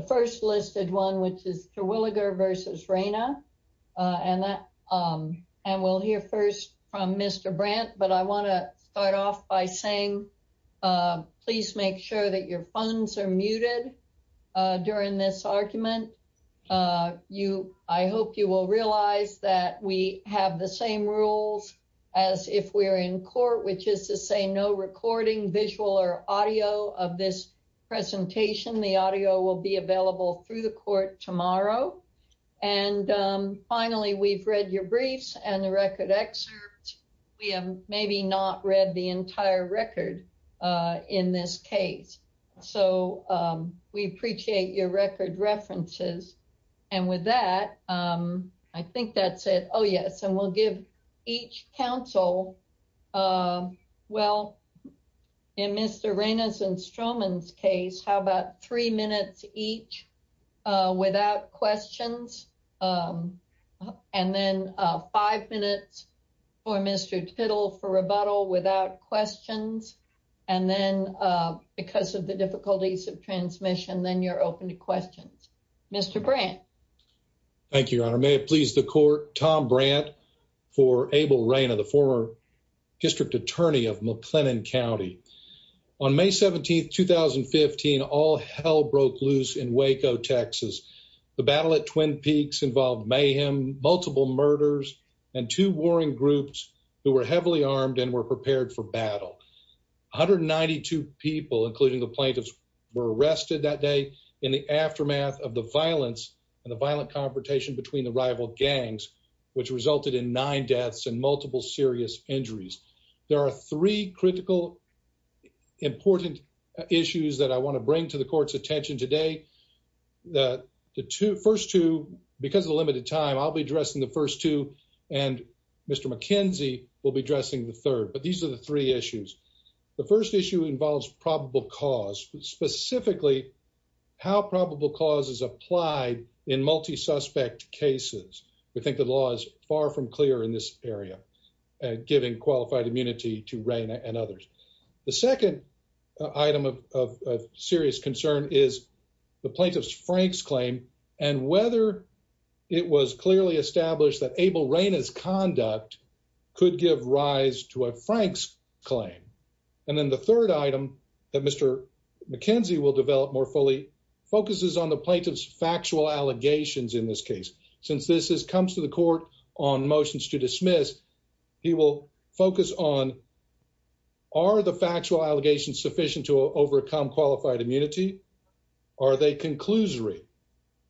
The first listed one, which is Terwilliger v. Reyna, and we'll hear first from Mr. Brent, but I want to start off by saying, please make sure that your phones are muted during this argument. I hope you will realize that we have the same rules as if we're in court, which is to say no recording, visual or audio of this presentation. The audio will be available through the court tomorrow. And finally, we've read your briefs and the record excerpt. We have maybe not read the entire record in this case. So we appreciate your record references. And with that, I think that's it. Oh, yes. And we'll give each counsel. Well, in Mr. Reyna's and Stroman's case, how about three minutes each without questions? And then five minutes for Mr. Tittle for rebuttal without questions. And then because of the difficulties of transmission, then you're open to questions. Mr. Brent. Thank you, Your Honor. May it please the court. Tom Brandt for Abel Reyna, the former district attorney of McLennan County. On May 17th, 2015, all hell broke loose in Waco, Texas. The battle at Twin Peaks involved mayhem, multiple murders, and two warring groups who were heavily armed and were prepared for battle. 192 people, including the plaintiffs, were arrested that day in the aftermath of the violence and the violent confrontation between the rival gangs, which resulted in nine deaths and multiple serious injuries. There are three critical, important issues that I want to bring to the court's attention today. The first two, because of the limited time, I'll be addressing the first two and Mr. McKenzie will be addressing the third. But these are the three issues. The first issue involves probable cause, specifically how probable cause is applied in multi-suspect cases. We think the law is far from clear in this area, giving qualified immunity to Reyna and others. The second item of serious concern is the plaintiff's Frank's claim and whether it was clearly established that Abel would rise to a Frank's claim. And then the third item that Mr. McKenzie will develop more fully focuses on the plaintiff's factual allegations in this case. Since this comes to the court on motions to dismiss, he will focus on, are the factual allegations sufficient to overcome qualified immunity? Are they conclusory?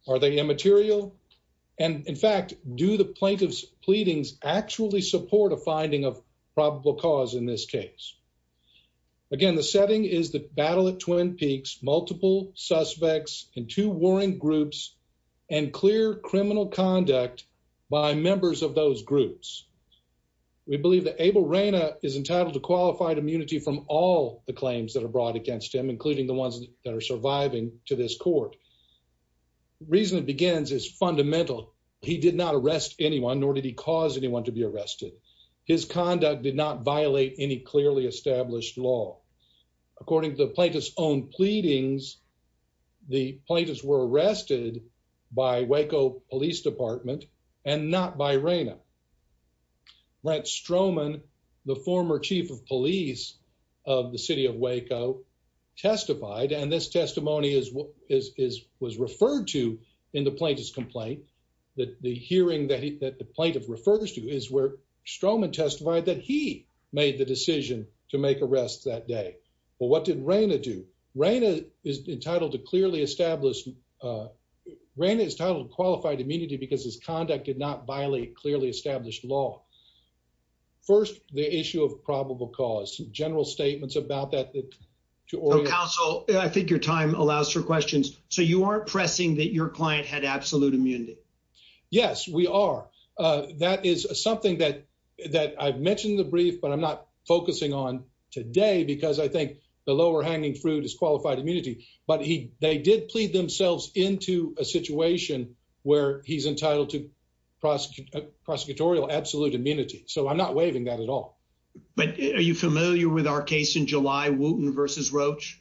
Are they immaterial? And in fact, do the plaintiff's claim meet the finding of probable cause in this case? Again, the setting is the battle at Twin Peaks, multiple suspects and two warring groups and clear criminal conduct by members of those groups. We believe that Abel Reyna is entitled to qualified immunity from all the claims that are brought against him, including the ones that are surviving to this court. Reason it begins is fundamental. He did not arrest anyone, nor did he cause anyone to be arrested. His conduct did not violate any clearly established law. According to the plaintiff's own pleadings, the plaintiffs were arrested by Waco Police Department and not by Reyna. Brent Stroman, the former chief of police of the city of Waco testified, and this testimony was referred to in the plaintiff's complaint, that the hearing that the plaintiff refers to is where Stroman testified that he made the decision to make arrests that day. Well, what did Reyna do? Reyna is entitled to clearly established, Reyna is entitled to qualified immunity because his conduct did not violate clearly established law. First, the issue of probable cause, general statements about that, that to orient. Counsel, I think your time allows for questions. So you aren't pressing that your client had That is something that I've mentioned in the brief, but I'm not focusing on today because I think the lower hanging fruit is qualified immunity. But they did plead themselves into a situation where he's entitled to prosecutorial absolute immunity. So I'm not waiving that at all. But are you familiar with our case in July, Wooten versus Roach?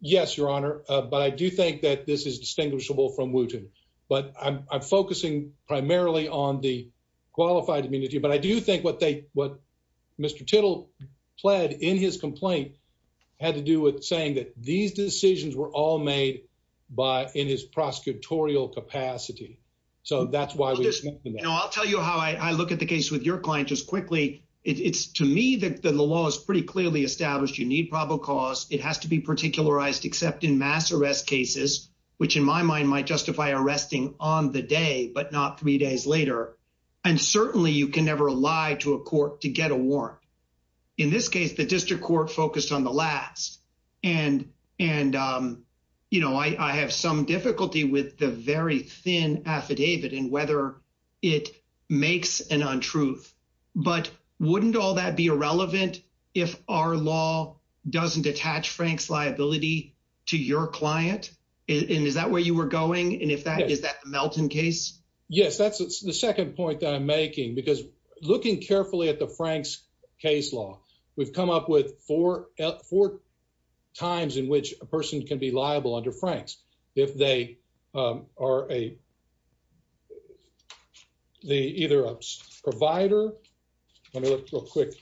Yes, your honor. But I do think that this is distinguishable from Wooten. But I'm focusing primarily on the qualified immunity. But I do think what they what Mr. Tittle pled in his complaint had to do with saying that these decisions were all made by in his prosecutorial capacity. So that's why we know I'll tell you how I look at the case with your client just quickly. It's to me that the law is pretty clearly established. You need probable cause. It has to be particularized, except in mass arrest cases, which in my mind might justify arresting on the day, but not three days later. And certainly you can never lie to a court to get a warrant. In this case, the district court focused on the last. And and, you know, I have some difficulty with the very thin affidavit and whether it makes an untruth. But wouldn't all that be irrelevant if our law doesn't attach Frank's liability to your client? Is that where you were going? And if that is that Melton case? Yes, that's the second point that I'm making, because looking carefully at the Frank's case law, we've come up with four at four times in which a person can be liable under Frank's if they are a the either provider. Let me look real quick.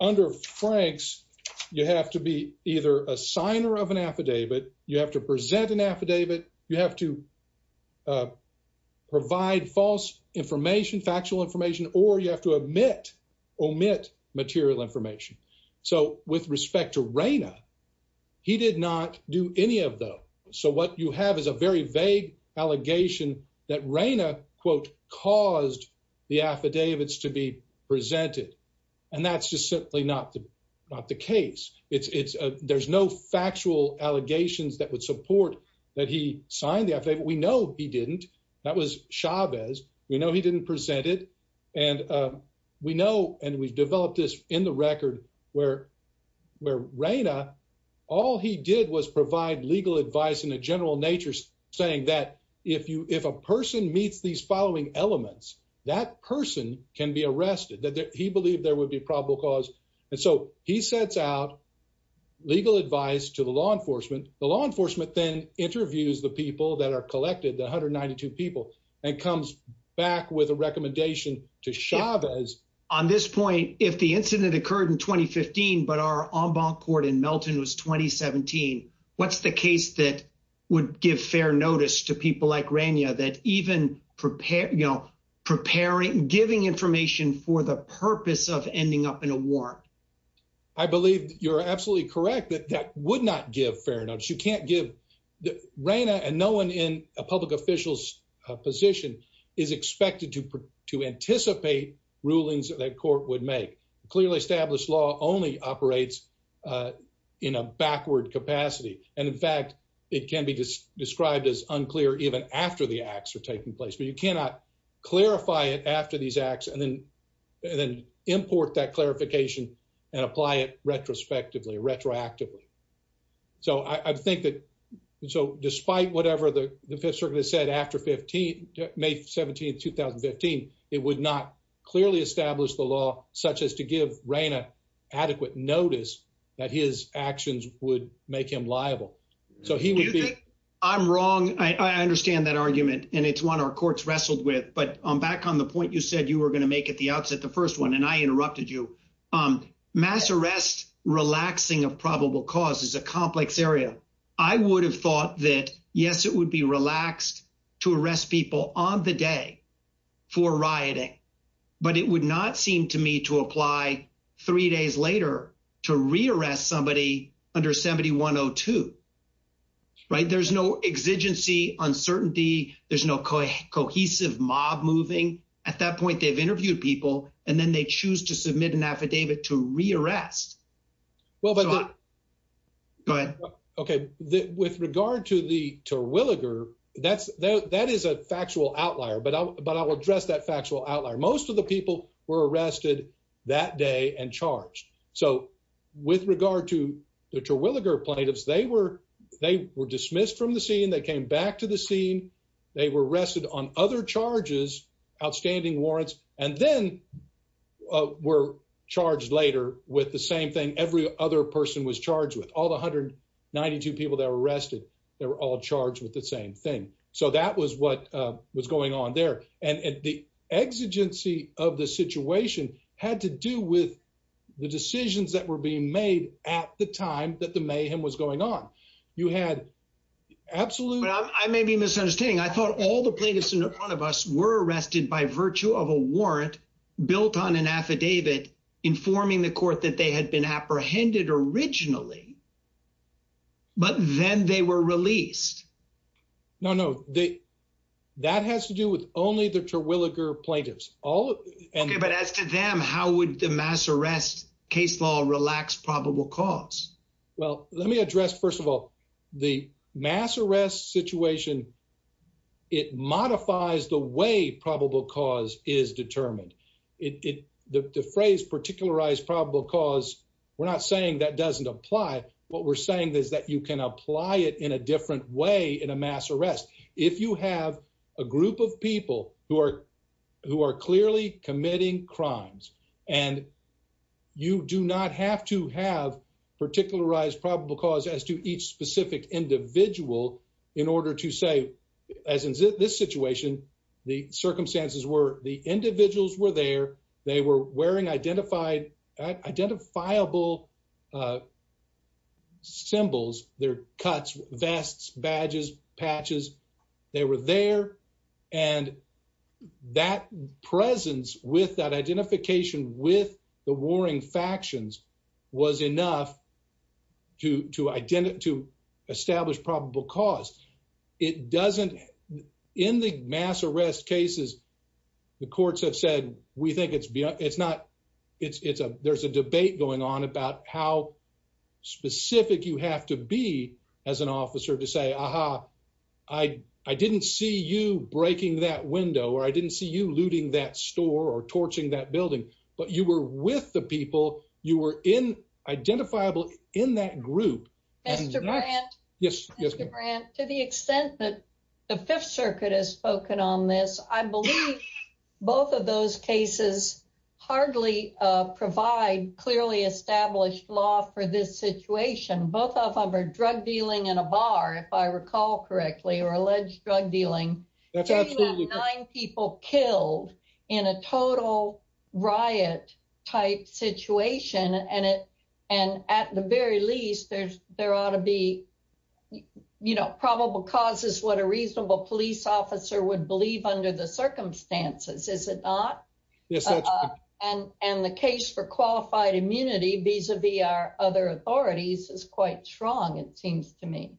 Under Frank's, you have to be either a signer of an affidavit. You have to present an affidavit. You have to provide false information, factual information, or you have to omit omit material information. So with respect to Raina, he did not do any of them. So what you have is a very vague allegation that Raina, quote, caused the affidavits to be presented. And that's just simply not not the case. It's it's there's no factual allegations that would support that he signed the affidavit. We know he didn't. That was Chavez. We know he didn't present it. And we know and we've developed this in the record where where Raina, all he did was provide legal advice in a general nature, saying that if you if a person meets these following elements, that person can be arrested, that he believed there would be probable cause. And so he sets out legal advice to the law enforcement. The law enforcement then interviews the people that are collected the hundred ninety two people and comes back with a recommendation to Chavez. On this point, if the incident occurred in 2015, but our Embankment Court in Melton was twenty seventeen, what's the case that would give fair notice to people like Raina that even prepare, you know, preparing, giving information for the purpose of ending up in a war? I believe you're absolutely correct that that would not give fair You can't give Raina and no one in a public official's position is expected to anticipate rulings that court would make. Clearly established law only operates in a backward capacity. And in fact, it can be described as unclear even after the acts are taking place. But you cannot clarify it after these acts and then and then import that clarification and apply it retrospectively, retroactively. So I think that so despite whatever the Fifth Circuit has said after 15, May 17, 2015, it would not clearly establish the law such as to give Raina adequate notice that his actions would make him liable. So he would be. I'm wrong. I understand that argument, and it's one our courts wrestled with. But I'm back on the point you said you were going to make at the outset, the first one, and I interrupted you. Mass arrest, relaxing of probable cause is a complex area. I would have thought that, yes, it would be relaxed to arrest people on the day for rioting. But it would not seem to me to apply three days later to rearrest somebody under 7102. Right. There's no exigency uncertainty. There's no cohesive mob moving. At that point, they've interviewed people and then they choose to submit an affidavit to rearrest. Well, but. But OK, with regard to the Terwilliger, that's that is a factual outlier. But I will address that factual outlier. Most of the people were arrested that day and charged. So with regard to the Terwilliger plaintiffs, they were they were dismissed from the scene. They came back to the scene. They were arrested on other charges, outstanding warrants, and then were charged later with the same thing every other person was charged with. All 192 people that were arrested, they were all charged with the same thing. So that was what was going on there. And the exigency of the situation had to do with the decisions that were being made at the time that the mayhem was understanding. I thought all the plaintiffs in front of us were arrested by virtue of a warrant built on an affidavit informing the court that they had been apprehended originally. But then they were released. No, no. That has to do with only the Terwilliger plaintiffs. All OK. But as to them, how would the mass arrest case law relax probable cause? Well, let me address, first of all, the mass arrest situation. It modifies the way probable cause is determined. The phrase particularized probable cause, we're not saying that doesn't apply. What we're saying is that you can apply it in a different way in a mass arrest. If you have a group of people who are who are clearly committing crimes and you do not have to have particularized probable cause as to each specific individual in order to say, as in this situation, the circumstances were the individuals were there. They were wearing identifiable symbols, their cuts, vests, badges, patches. They were there. And that presence with that identification with the warring factions was enough to to identify to establish probable cause. It doesn't. In the mass arrest cases, the courts have said, we think it's it's not it's a there's a debate going on about how specific you have to be as an officer to say, aha, I I didn't see you breaking that window or I didn't see you looting that store or torching that building, but you were with the people you were in identifiable in that group. Yes. Yes. To the extent that the Fifth Circuit has spoken on this, I believe both of those cases hardly provide clearly established law for this situation. Both of them are drug dealing in a bar, if I recall correctly, or alleged drug dealing. That's absolutely nine people killed in a total riot type situation. And it and at the very least, there's there ought to be, you know, probable cause is what a reasonable police officer would believe under the circumstances, is it not? Yes. And and the case for qualified immunity, vis a vis our other authorities is quite strong, it seems to me.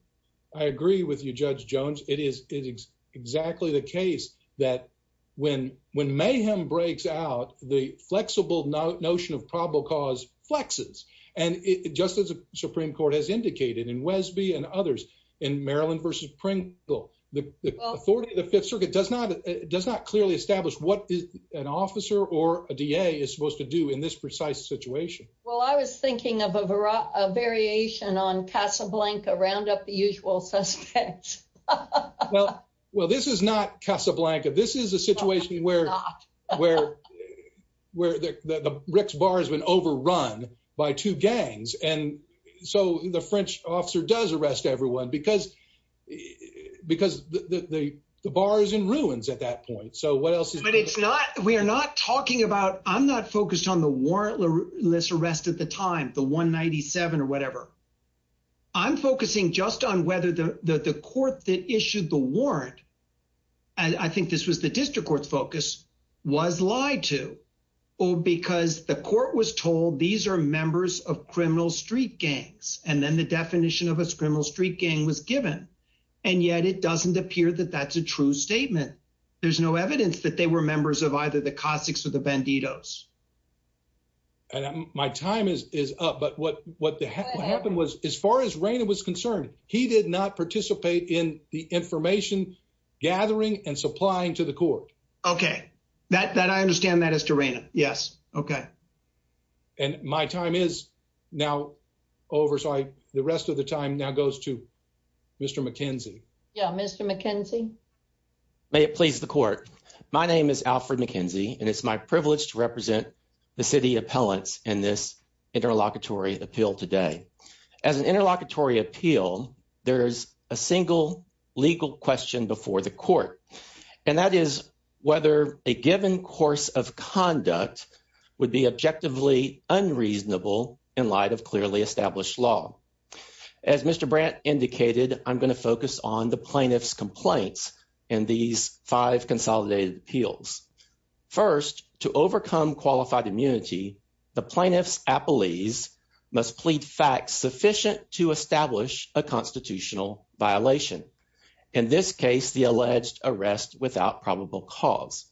I agree with you, Judge Jones. It is exactly the case that when when mayhem breaks out, the flexible notion of probable cause flexes. And just as the Supreme Court has indicated in Wesby and others in Maryland versus Pringle, the authority of the Fifth Circuit does not does not clearly establish what an officer or a DA is supposed to do in this precise situation. Well, I was thinking of a variation on Casablanca, round up the usual suspects. Well, well, this is not Casablanca. This is a situation where, where, where the Ricks bar has been overrun by two gangs. And so the French officer does arrest everyone because, because the bar is in ruins at that point. So what else? But it's not we are not talking about I'm not focused on the warrantless arrest at the time, the 197 or whatever. I'm focusing just on whether the court that issued the warrant. And I think this was the district court's focus was lied to, or because the court was told these are members of criminal street gangs. And then the definition of a criminal street gang was given. And yet it doesn't appear that that's a true statement. There's no evidence that they were members of either the Cossacks or the Bandidos. And my time is up. But what what happened was, as far as Raina was concerned, he did not participate in the information gathering and supplying to the court. Okay, that that I understand that as to Raina. Yes. Okay. And my time is now over. So I the rest of the time now goes to Mr. McKenzie. Yeah, Mr. McKenzie. May it please the court. My name is Alfred McKenzie, and it's my privilege to represent the city appellants in this interlocutory appeal today. As an interlocutory appeal, there's a single legal question before the court. And that is whether a given course of conduct would be objectively unreasonable in light of clearly established law. As Mr. Brandt indicated, I'm going to focus on the plaintiff's complaints in these five consolidated appeals. First, to overcome qualified immunity, the plaintiff's appellees must plead facts sufficient to establish a constitutional violation. In this case, the alleged arrest without probable cause.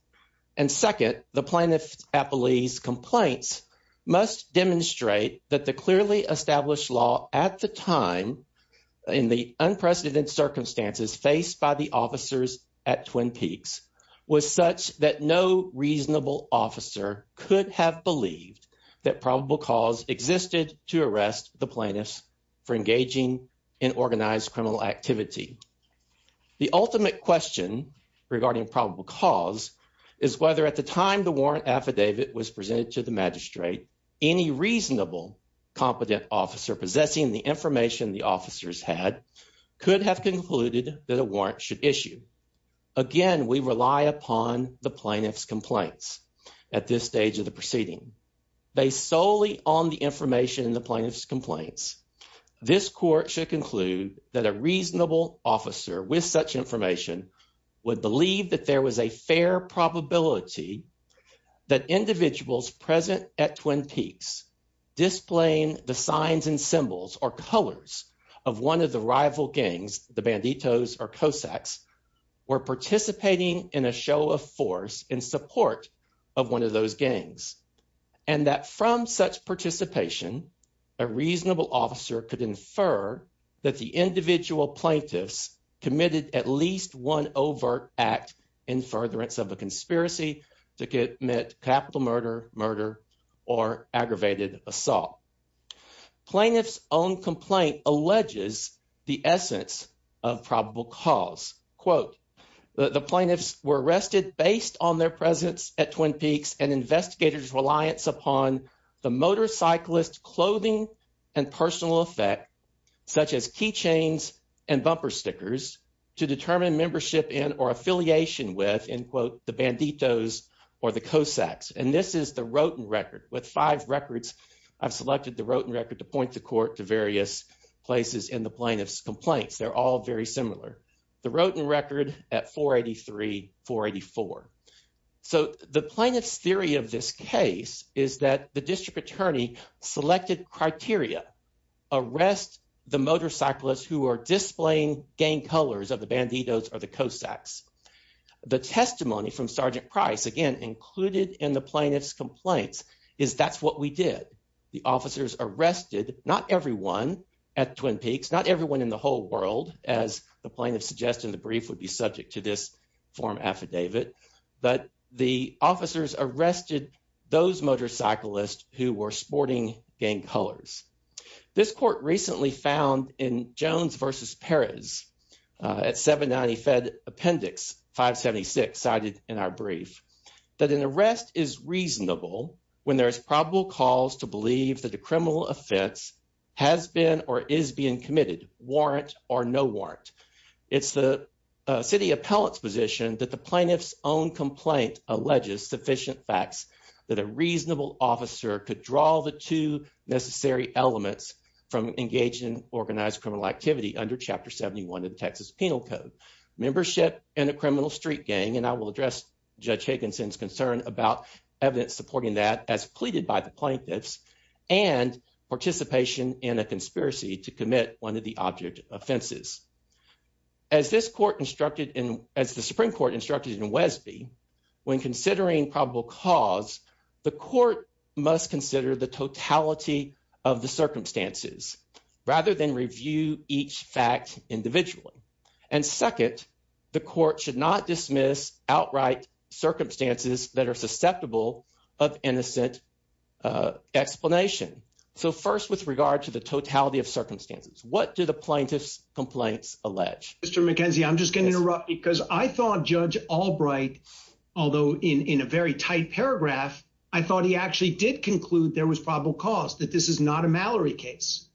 And second, the plaintiff's appellees complaints must demonstrate that the clearly established law at the time, in the unprecedented circumstances faced by the officers at Twin Peaks, was such that no reasonable officer could have believed that probable cause existed to arrest the plaintiffs for engaging in organized criminal activity. The ultimate question regarding probable cause is whether at the time the warrant affidavit was presented to the magistrate, any reasonable competent officer possessing the information the officers had could have concluded that a warrant should issue. Again, we rely upon the plaintiff's complaints at this stage of the proceeding. Based solely on the information in the plaintiff's complaints, this court should conclude that a reasonable officer with such information would believe that there was a fair probability that individuals present at Twin Peaks displaying the signs and symbols or colors of one of the rival gangs, the Banditos or Cossacks, were participating in a show of force in support of one of those gangs. And that from such participation, a reasonable officer could infer that the individual plaintiffs committed at least one overt act in furtherance of a conspiracy to commit capital murder, murder, or aggravated assault. Plaintiff's own complaint alleges the essence of probable cause. Quote, the plaintiffs were arrested based on their presence at Twin Peaks and investigators' reliance upon the motorcyclist's clothing and personal effect, such as key chains and bumper stickers, to determine membership in or affiliation with, end quote, the Banditos or the Cossacks. And this is the Rotin record. With five records, I've selected the Rotin record to point the court to various places in the plaintiff's complaints. They're all very similar. The Rotin record at 483, 484. So the plaintiff's theory of this case is that the district attorney selected criteria. Arrest the motorcyclist who are displaying gang colors of the Banditos or the Cossacks. The testimony from Sergeant Price, again included in the plaintiff's complaints, is that's what we did. The officers arrested not everyone at Twin Peaks, not everyone in the whole world, as the plaintiff suggested in the brief would be subject to this form affidavit. But the officers arrested those motorcyclists who were sporting gang colors. This court recently found in Jones v. Perez at 790 Fed Appendix 576, cited in our brief, that an arrest is reasonable when there is probable cause to believe that a criminal offense has been or is being committed, warrant or no warrant. It's the city appellant's position that the plaintiff's own complaint alleges sufficient facts that a reasonable officer could draw the two necessary elements from engaging in organized criminal activity under Chapter 71 of the Texas Penal Code. Membership in a criminal street gang, and I will address Judge Higginson's concern about evidence supporting that as pleaded by the plaintiffs, and participation in a conspiracy to commit one of the object offenses. As the Supreme Court instructed in Wesby, when considering probable cause, the court must consider the totality of the circumstances rather than review each fact individually. And second, the court should not dismiss outright circumstances that are susceptible of innocent explanation. So first, with regard to the totality of circumstances, what do the plaintiff's complaints allege? Mr. McKenzie, I'm just going to interrupt because I thought Judge Albright, although in a very tight paragraph, I thought he actually did conclude there was probable cause, that this is not a Mallory case.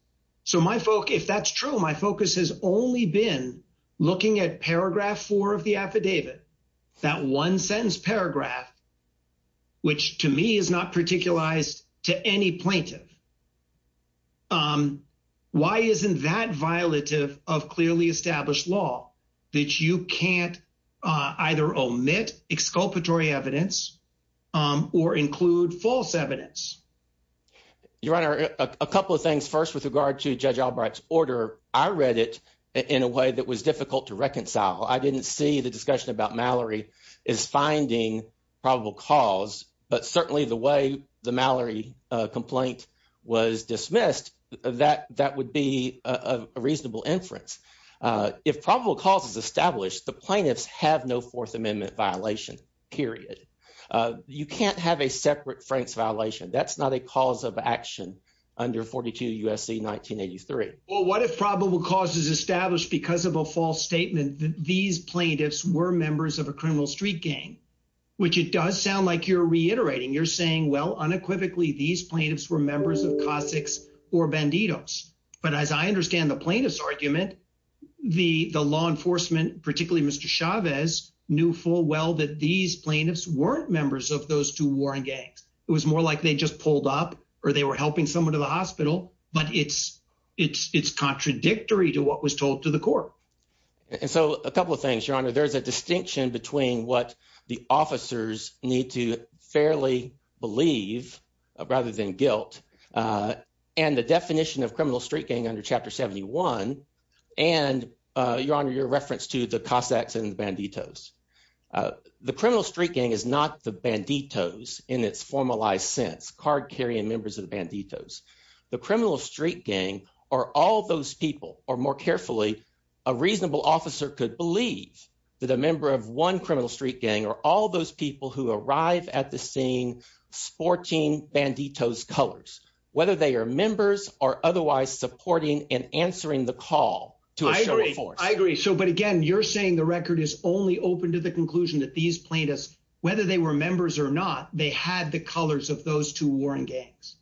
So if that's true, my focus has only been looking at paragraph four of the affidavit, that one sentence paragraph, which to me is not particularized to any plaintiff. Why isn't that violative of clearly established law, that you can't either omit exculpatory evidence or include false evidence? Your Honor, a couple of things. First, with regard to Judge Albright's order, I read it in a way that was difficult to reconcile. I didn't see the discussion about Mallory as finding probable cause, but certainly the way the Mallory complaint was dismissed, that would be a reasonable inference. If probable cause is established, the plaintiffs have no Fourth Amendment violation, period. You can't have a separate Franks violation. That's not a cause of action under 42 U.S.C. 1983. Well, what if probable cause is established because of a false statement that these plaintiffs were members of a criminal street gang, which it does sound like you're banditos. But as I understand the plaintiff's argument, the law enforcement, particularly Mr. Chavez, knew full well that these plaintiffs weren't members of those two warring gangs. It was more like they just pulled up or they were helping someone to the hospital, but it's contradictory to what was told to the court. A couple of things, Your Honor. There's a definition of criminal street gang under Chapter 71, and Your Honor, your reference to the Cossacks and the banditos. The criminal street gang is not the banditos in its formalized sense, card-carrying members of the banditos. The criminal street gang are all those people, or more carefully, a reasonable officer could believe that a member of one criminal street gang are all those people who arrive at the scene sporting banditos colors, whether they are members or otherwise supporting and answering the call to a show of force. I agree. So, but again, you're saying the record is only open to the conclusion that these plaintiffs, whether they were members or not, they had the colors of those two warring gangs.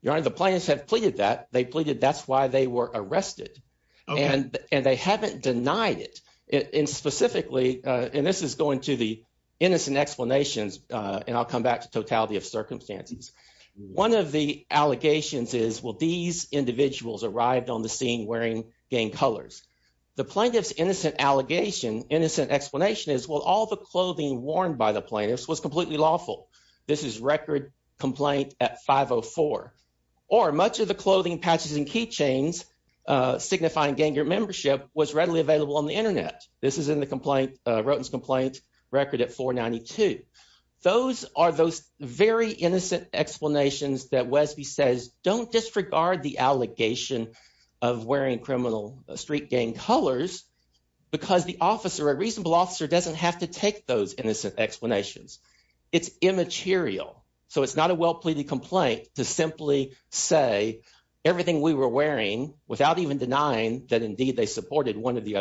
Your Honor, the plaintiffs have pleaded that. They pleaded that's why they were arrested, and they haven't denied it. And specifically, and this is going to the innocent explanations, and I'll come back to totality of circumstances. One of the allegations is, well, these individuals arrived on the scene wearing gang colors. The plaintiff's innocent allegation, innocent explanation is, well, all the clothing worn by the plaintiffs was completely lawful. This is record complaint at 504. Or much of the clothing, patches, and keychains signifying gang membership was readily available on the internet. This is in the complaint, Roten's 22. Those are those very innocent explanations that Wesby says, don't disregard the allegation of wearing criminal street gang colors because the officer, a reasonable officer, doesn't have to take those innocent explanations. It's immaterial. So, it's not a well-pleaded complaint to simply say everything we were wearing without even denying that indeed they supported one of the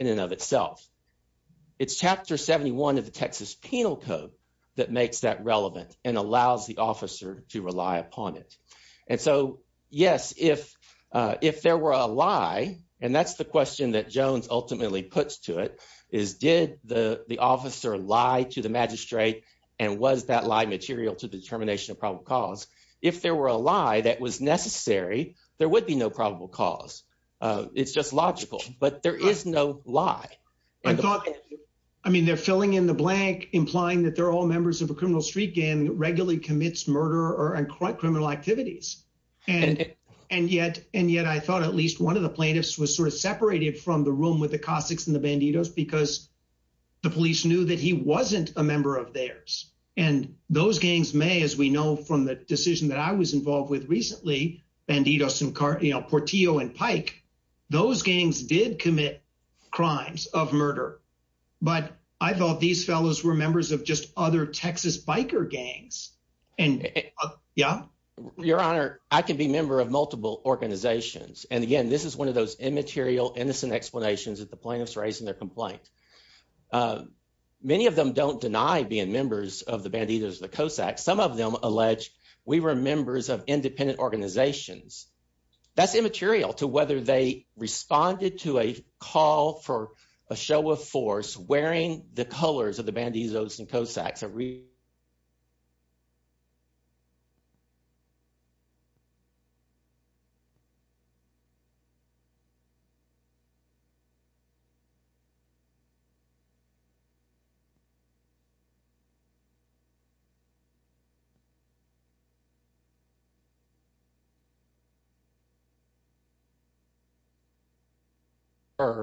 in and of itself. It's chapter 71 of the Texas Penal Code that makes that relevant and allows the officer to rely upon it. And so, yes, if there were a lie, and that's the question that Jones ultimately puts to it, is did the officer lie to the magistrate, and was that lie material to the determination of probable cause? If there were a lie that was necessary, there would be no probable cause. It's just logical, but there is no lie. I mean, they're filling in the blank, implying that they're all members of a criminal street gang that regularly commits murder and criminal activities. And yet, I thought at least one of the plaintiffs was sort of separated from the room with the Cossacks and the Bandidos because the police knew that he wasn't a member of theirs. And those gangs may, as we know from the decision that I was involved with recently, Bandidos and Portillo and Pike, those gangs did commit crimes of murder, but I thought these fellows were members of just other Texas biker gangs. Yeah? Your Honor, I can be a member of multiple organizations. And again, this is one of those immaterial, innocent explanations that the plaintiffs raised in their complaint. Many of them don't deny being members of the Bandidos or the Cossacks. Some of them don't. That's immaterial to whether they responded to a call for a show of force wearing the colors of the Bandidos and Cossacks.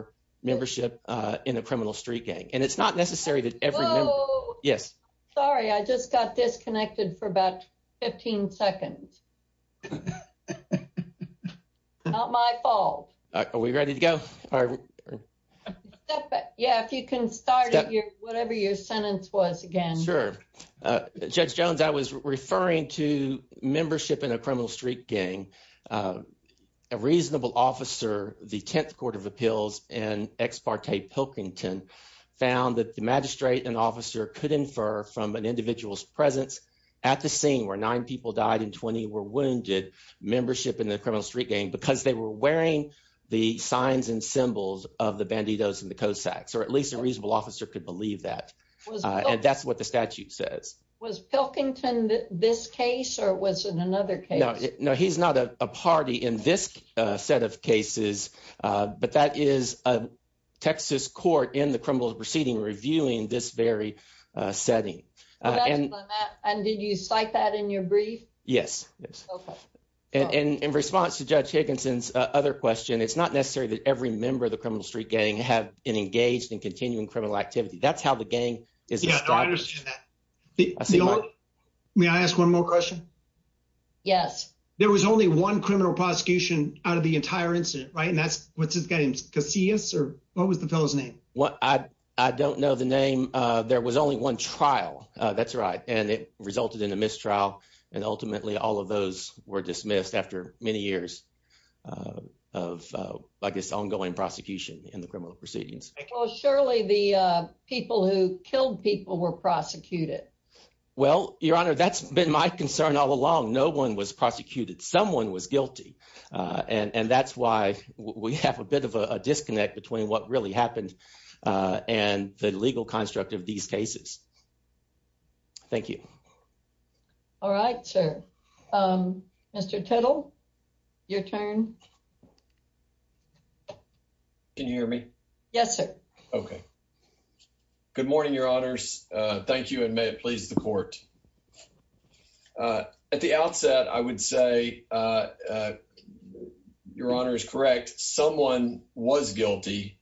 I'm sorry, I just got disconnected for about 15 seconds. Not my fault. Are we ready to go? Yeah, if you can start whatever your sentence was again. Sure. Judge Jones, I was referring to membership in a criminal street gang. A reasonable officer, the 10th Court of Appeals in Ex parte Pilkington, found that the magistrate and officer could infer from an individual's presence at the scene where nine people died and 20 were wounded membership in the criminal street gang because they were wearing the signs and symbols of the Bandidos and the Cossacks, or at least a reasonable officer could believe that. That's what the statute says. Was Pilkington this case or was it another case? No, he's not a party in this set of cases, but that is a Texas court in the criminal proceeding reviewing this very setting. And did you cite that in your brief? Yes. And in response to Judge Higginson's other question, it's not necessary that every member of the criminal street gang have been engaged in continuing criminal activity. That's how the gang is. Yeah, I understand that. May I ask one more question? Yes. There was only one criminal prosecution out of the entire incident, right? And that's what's his name, Casillas, or what was the fellow's name? I don't know the name. There was only one trial. That's right. And it resulted in a mistrial. And ultimately all of those were dismissed after many years of, I guess, ongoing prosecution in the criminal proceedings. Well, surely the people who killed people were prosecuted. Well, Your Honor, that's been my concern all along. No one was prosecuted. Someone was guilty. And that's why we have a bit of a disconnect between what really happened and the legal construct of these cases. Thank you. All right, sir. Mr. Tittle, your turn. Can you hear me? Yes, sir. Okay. Good morning, Your Honors. Thank you. And may it please the court. At the outset, I would say, Your Honor is correct. Someone was guilty.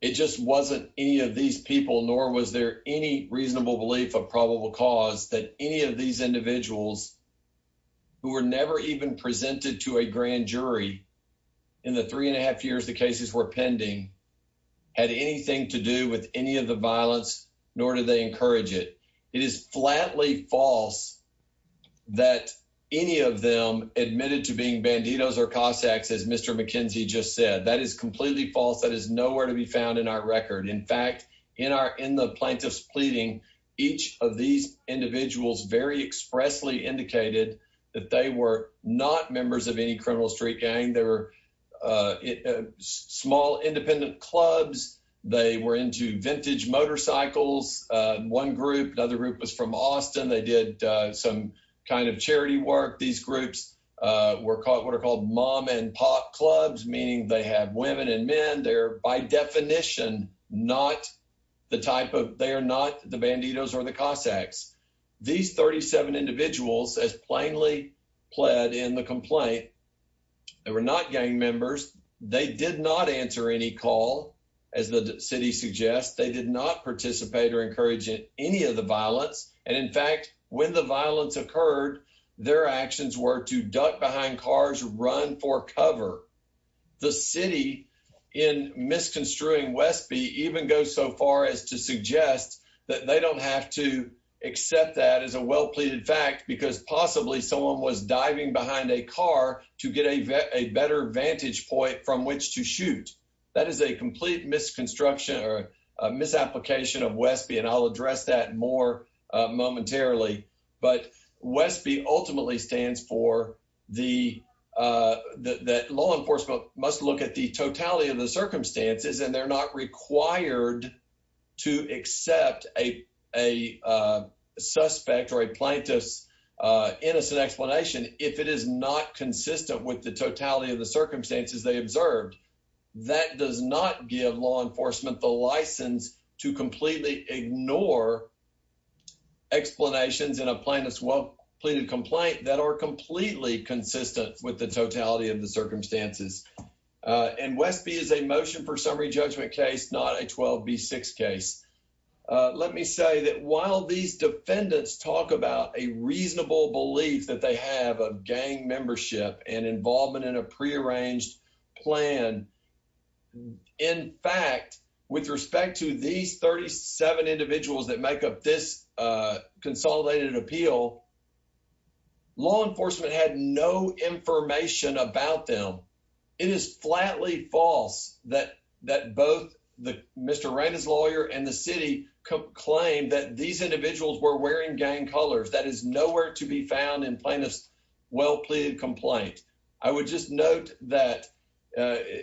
It just wasn't any of these people, nor was there any reasonable belief of probable cause that any of these in the three and a half years the cases were pending had anything to do with any of the violence, nor did they encourage it. It is flatly false that any of them admitted to being banditos or Cossacks, as Mr. McKenzie just said. That is completely false. That is nowhere to be found in our record. In fact, in the plaintiff's pleading, each of these individuals very expressly indicated that they were not members of any criminal street gang. They were small independent clubs. They were into vintage motorcycles. One group, another group was from Austin. They did some kind of charity work. These groups were what are called mom and pop clubs, meaning they have women and men. They're by definition not the type of, they are not the banditos or the Cossacks. These 37 individuals, as plainly pled in the complaint, they were not gang members. They did not answer any call. As the city suggests, they did not participate or encourage any of the violence. And in fact, when the violence occurred, their actions were to duck behind cars, run for cover. The city, in misconstruing Westby, even goes so far as to suggest that they don't have to accept that as a well pleaded fact because possibly someone was diving behind a car to get a better vantage point from which to shoot. That is a complete misconstruction or misapplication of Westby. And I'll address that more momentarily. But Westby ultimately stands for the, that law enforcement must look at the totality of the circumstances and they're not required to accept a suspect or a plaintiff's innocent explanation if it is not consistent with the totality of the circumstances they observed. That does not give law enforcement the license to completely ignore explanations in a plaintiff's well pleaded complaint that are completely consistent with the totality of the circumstances. And Westby is a motion for summary judgment case, not a 12B6 case. Let me say that while these defendants talk about a reasonable belief that they have of gang membership and involvement in a prearranged plan, in fact, with respect to these 37 individuals that make up this consolidated appeal, law enforcement had no information about them. It is flatly false that both Mr. Raina's lawyer and the city claim that these individuals were wearing gang colors. That is nowhere to be found in plaintiff's well pleaded complaint. I would just note that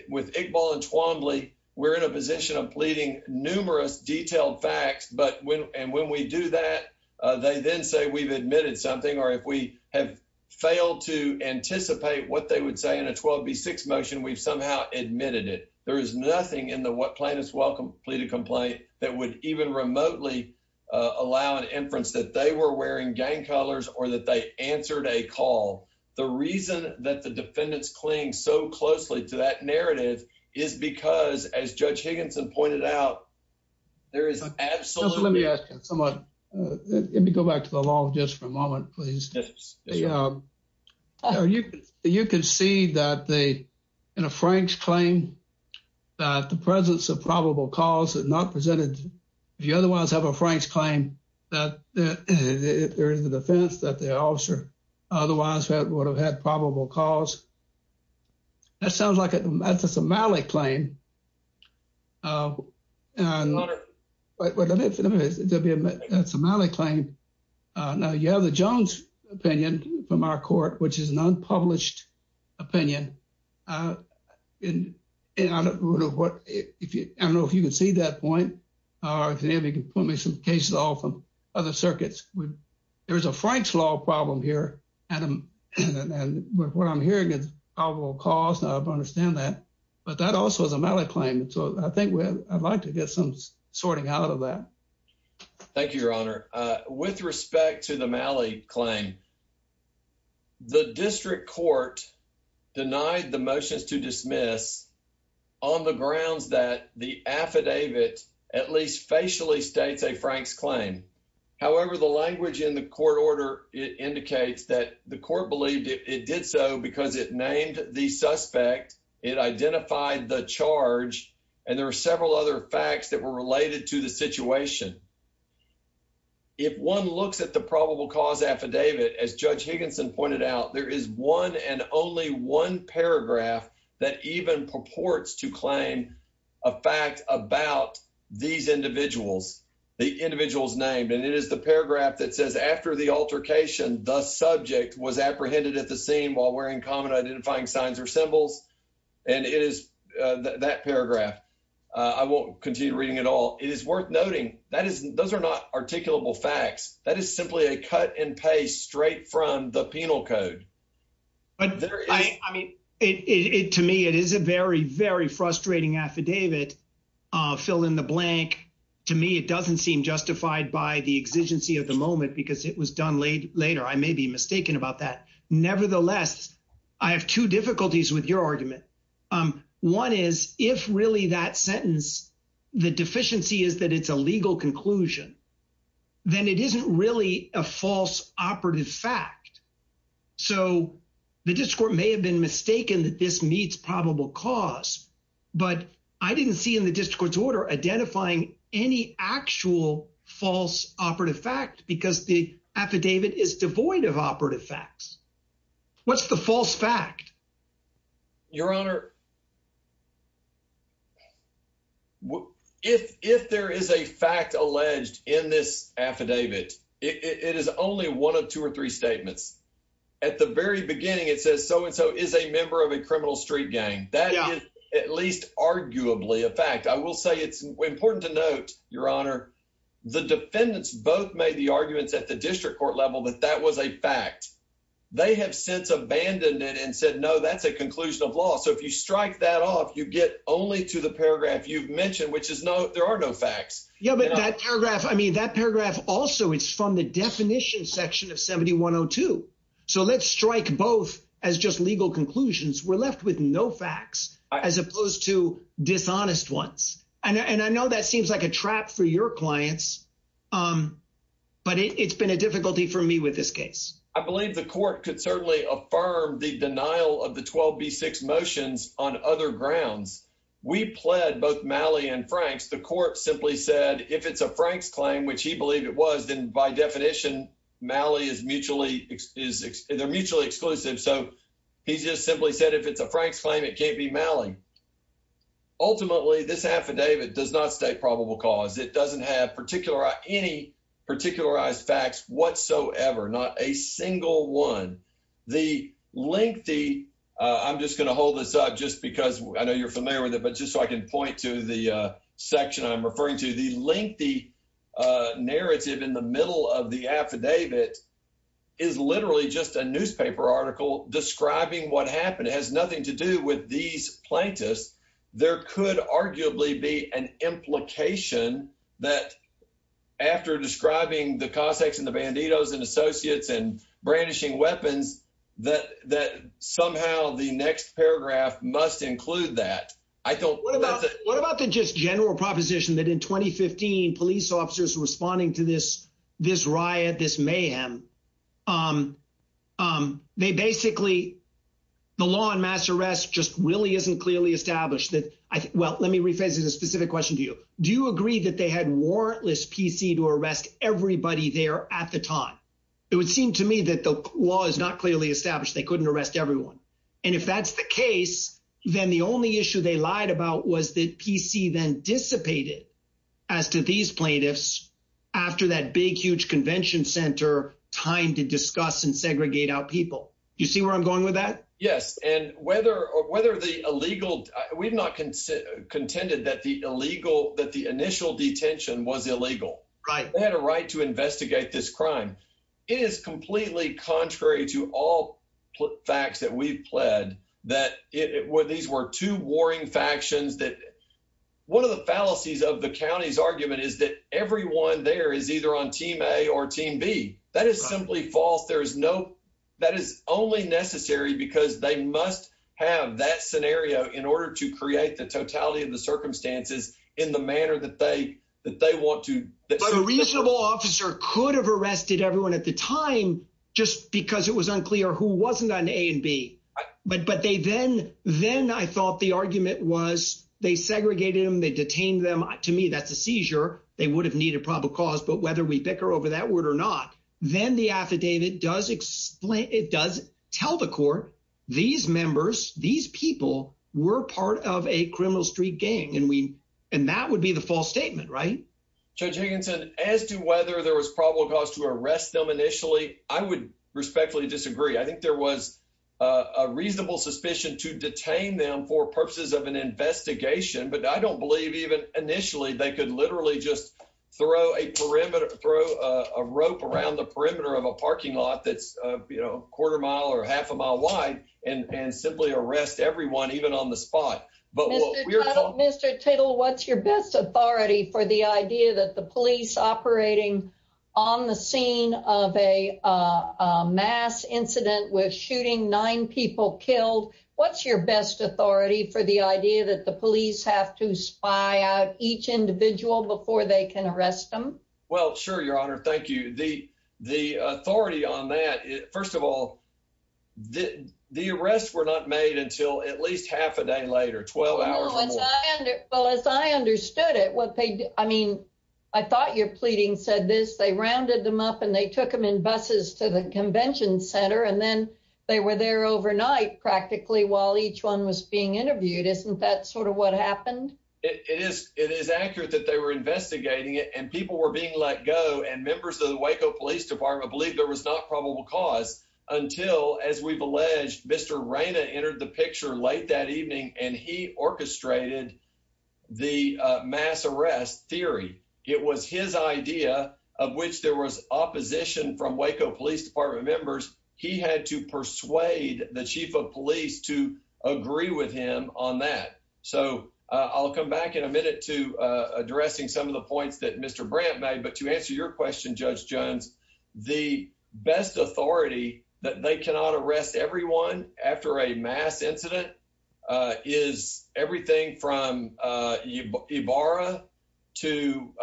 with Iqbal and Twombly, we're in a position of pleading numerous detailed facts. And when we do that, they then say we've admitted something or if we have failed to 12B6 motion, we've somehow admitted it. There is nothing in the plaintiff's well pleaded complaint that would even remotely allow an inference that they were wearing gang colors or that they answered a call. The reason that the defendants cling so closely to that narrative is because, as Judge Higginson pointed out, there is absolutely. Let me go back to the law just for a moment, please. You can see that in a Frank's claim that the presence of probable cause is not presented. If you otherwise have a Frank's claim that there is a defense that the officer otherwise would have had probable cause. That sounds like it's a Malik claim. That's a Malik claim. Now, you have the Jones opinion from our court, which is an unpublished opinion. And I don't know if you can see that point. Or if anybody can put me some cases off from other circuits. There is a Frank's law problem here. And what I'm hearing is probable cause. Now I understand that. But that also is a Malik claim. So I think I'd like to get some sorting out of that. Thank you, Your Honor. With respect to the Malik claim, the district court denied the motions to dismiss on the grounds that the affidavit at least facially states a Frank's claim. However, the language in the court order indicates that the suspect, it identified the charge. And there are several other facts that were related to the situation. If one looks at the probable cause affidavit, as Judge Higginson pointed out, there is one and only one paragraph that even purports to claim a fact about these individuals, the individuals named. And it is the paragraph that says after the altercation, the subject was and it is that paragraph. I won't continue reading it all. It is worth noting that is those are not articulable facts. That is simply a cut and paste straight from the penal code. But I mean, it to me, it is a very, very frustrating affidavit fill in the blank. To me, it doesn't seem justified by the exigency of the moment because it was done late later. I have two difficulties with your argument. One is if really that sentence, the deficiency is that it's a legal conclusion, then it isn't really a false operative fact. So the district court may have been mistaken that this meets probable cause. But I didn't see in the district court's order identifying any actual false operative fact because the affidavit is devoid of operative facts. What's the false fact, Your Honor? If if there is a fact alleged in this affidavit, it is only one of two or three statements. At the very beginning, it says so and so is a member of a criminal street gang that is at least arguably a fact. I will say it's important to note, Your Honor, the defendants both made the arguments at the district court level that that was a fact. They have since abandoned it and said, no, that's a conclusion of law. So if you strike that off, you get only to the paragraph you've mentioned, which is no, there are no facts. Yeah, but that paragraph, I mean, that paragraph also, it's from the definition section of 7102. So let's strike both as just legal conclusions. We're left with no facts as opposed to dishonest ones. And I know that seems like a trap for your clients, but it's been a difficulty for me with this case. I believe the court could certainly affirm the denial of the 12b6 motions on other grounds. We pled both Malley and Franks. The court simply said, if it's a Franks claim, which he believed it was, then by definition, Malley is mutually exclusive. So he just simply said, if it's a Franks claim, it can't be Malley. Ultimately, this affidavit does not state probable cause. It doesn't have any particularized facts whatsoever, not a single one. The lengthy, I'm just going to hold this up just because I know you're familiar with it, but just so I can point to the section I'm referring to, the lengthy narrative in the middle of the affidavit is literally just a newspaper article describing what happened. It has nothing to do with these plaintiffs. There could arguably be an implication that after describing the Cossacks and the Banditos and associates and brandishing weapons, that somehow the next paragraph must include that. What about the just general proposition that in 2015, police officers responding to this mayhem, they basically, the law on mass arrest just really isn't clearly established. Well, let me rephrase this specific question to you. Do you agree that they had warrantless PC to arrest everybody there at the time? It would seem to me that the law is not clearly established. They couldn't arrest everyone. If that's the case, then the only issue they lied about was that PC then dissipated as to these plaintiffs after that big, huge convention center time to discuss and segregate out people. Do you see where I'm going with that? Yes. And whether the illegal, we've not contended that the initial detention was illegal. They had a right to investigate this crime. It is completely contrary to all facts that we've pled that these were two warring factions that one of the fallacies of the county's argument is that everyone there is either on team A or team B. That is simply false. There is no, that is only necessary because they must have that scenario in order to create the totality of the circumstances in the manner that they want to. But a reasonable officer could have arrested everyone at the time, just because it was unclear who wasn't on A and B. But, but they then, then I thought the argument was they segregated them. They detained them. To me, that's a seizure. They would have needed probable cause, but whether we bicker over that word or not, then the affidavit does explain, it does tell the court, these members, these people were part of a criminal street gang. And we, and that would be the false statement, right? Judge Higginson, as to whether there was probable cause to arrest them initially, I would respectfully disagree. I think there was a reasonable suspicion to detain them for purposes of an investigation, but I don't believe even initially they could literally just throw a perimeter, throw a rope around the perimeter of a parking lot that's a quarter mile or half a mile wide and simply arrest everyone, even on the spot. But what we're- Mr. Tittle, what's your best authority for the idea that the police operating on the scene of a mass incident with shooting nine people killed, what's your best authority for the idea that the police have to spy out each individual before they can arrest them? Well, sure, Your Honor. Thank you. The, the authority on that, first of all, the arrests were not made until at least half a day later, 12 hours. Well, as I understood it, what they, I mean, I thought your pleading said this, they rounded them up and they took them in buses to the convention center and then they were there overnight practically while each one was being interviewed. Isn't that sort of what happened? It is, it is accurate that they were investigating it and people were being let go and members of the Waco Police Department believed there was not probable cause until, as we've alleged, Mr. Reyna entered the picture late that evening and he orchestrated the mass arrest theory. It was his idea of which there was opposition from Waco Police Department members. He had to persuade the chief of police to agree with him on that. So I'll come back in a minute to addressing some of the points that Mr. Brandt made, but to answer your question, Judge Jones, the best authority that they cannot use to investigate a mass incident is everything from Ibarra to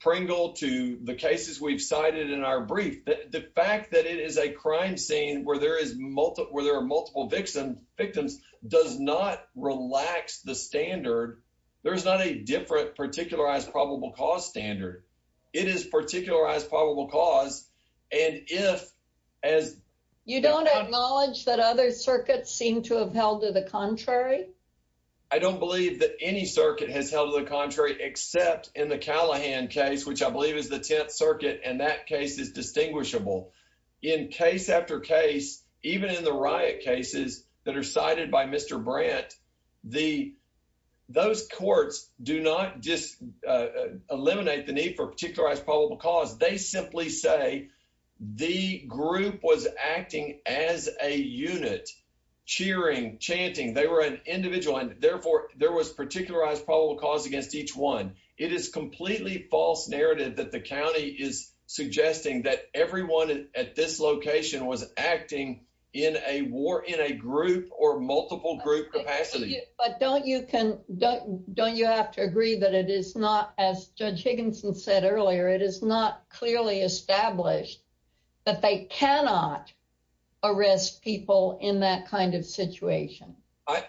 Pringle to the cases we've cited in our brief. The fact that it is a crime scene where there are multiple victims does not relax the standard. There's not a different particularized probable cause standard. It is particularized probable cause. And if, as- You don't acknowledge that other circuits seem to have held to the contrary? I don't believe that any circuit has held to the contrary except in the Callahan case, which I believe is the 10th circuit, and that case is distinguishable. In case after case, even in the riot cases that are cited by Mr. Brandt, those courts do not just eliminate the need for particularized probable cause. They simply say the group was acting as a chanting. They were an individual, and therefore there was particularized probable cause against each one. It is completely false narrative that the county is suggesting that everyone at this location was acting in a group or multiple group capacity. But don't you have to agree that it is not, as Judge Higginson said earlier, it is not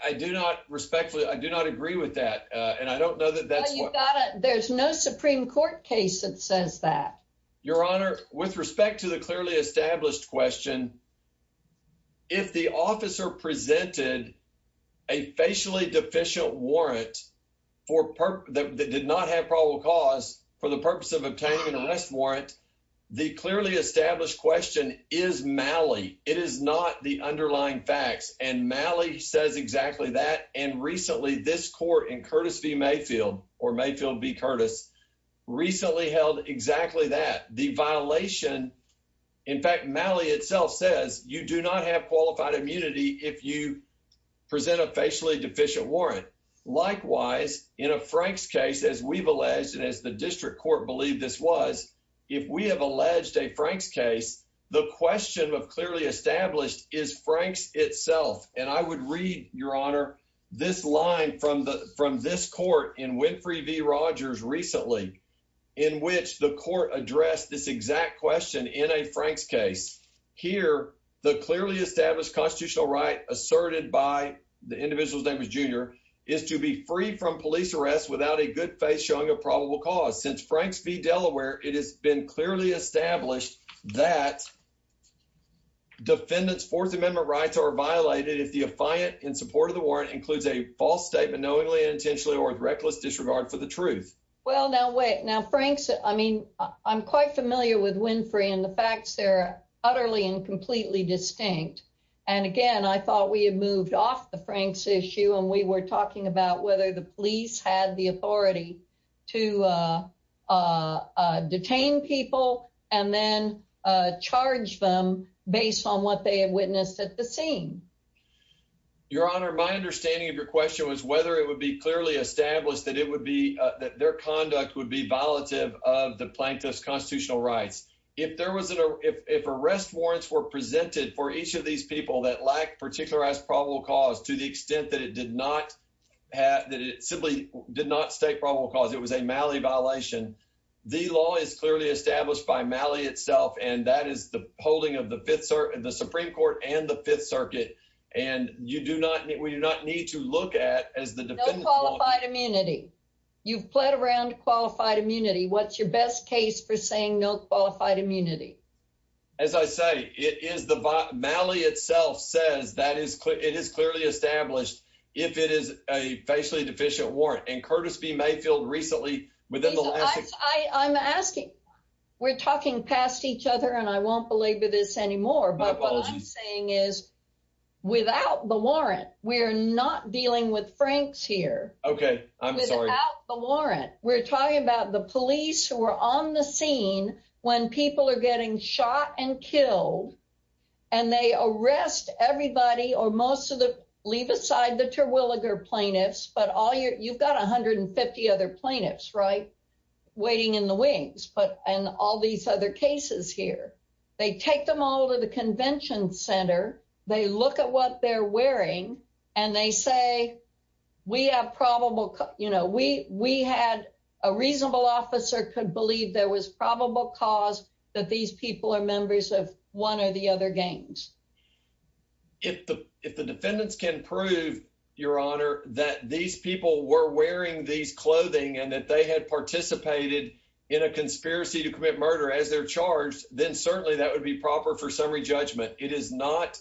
I do not respectfully- I do not agree with that, and I don't know that that's what- There's no Supreme Court case that says that. Your Honor, with respect to the clearly established question, if the officer presented a facially deficient warrant that did not have probable cause for the purpose of obtaining an arrest warrant, the clearly established question is the underlying facts, and Malley says exactly that, and recently this court in Curtis v. Mayfield or Mayfield v. Curtis recently held exactly that. The violation, in fact, Malley itself says you do not have qualified immunity if you present a facially deficient warrant. Likewise, in a Frank's case, as we've alleged and as the district court believed this was, if we have alleged a Frank's case, the question of clearly established is Frank's itself, and I would read, Your Honor, this line from this court in Winfrey v. Rogers recently in which the court addressed this exact question in a Frank's case. Here, the clearly established constitutional right asserted by the individual's name is Junior is to be free from police arrest without a good faith showing a probable cause. Since Frank's v. Delaware, it has been clearly established that defendant's Fourth Amendment rights are violated if the affiant in support of the warrant includes a false statement knowingly and intentionally or with reckless disregard for the truth. Well, now wait, now Frank's, I mean, I'm quite familiar with Winfrey and the facts there are utterly and completely distinct, and again, I thought we had moved off the Frank's issue and we were talking about whether the police had the authority to detain people and then charge them based on what they had witnessed at the scene. Your Honor, my understanding of your question was whether it would be clearly established that it would be that their conduct would be violative of the plaintiff's constitutional rights. If arrest warrants were presented for each of these people that lack particularized probable cause to the extent that it did not have, that it simply did not state probable cause, it was a Malley violation, the law is clearly established by Malley itself and that is the holding of the Fifth Circuit, the Supreme Court, and the Fifth Circuit, and you do not, we do not need to look at as the defendant qualified immunity. You've played around qualified immunity. What's your It is clearly established if it is a facially deficient warrant and Curtis B Mayfield recently within the last- I'm asking, we're talking past each other and I won't belabor this anymore, but what I'm saying is without the warrant, we're not dealing with Frank's here. Okay, I'm sorry. Without the warrant, we're talking about the police who are on the scene when people are getting shot and killed and they arrest everybody or most of the, leave aside the Terwilliger plaintiffs, but all your, you've got 150 other plaintiffs, right? Waiting in the wings, but, and all these other cases here, they take them all to the convention center. They look at what they're wearing and they say, we have probable, you know, we, we had a reasonable officer could there was probable cause that these people are members of one or the other games. If the, if the defendants can prove your honor, that these people were wearing these clothing and that they had participated in a conspiracy to commit murder as they're charged, then certainly that would be proper for summary judgment. It is not,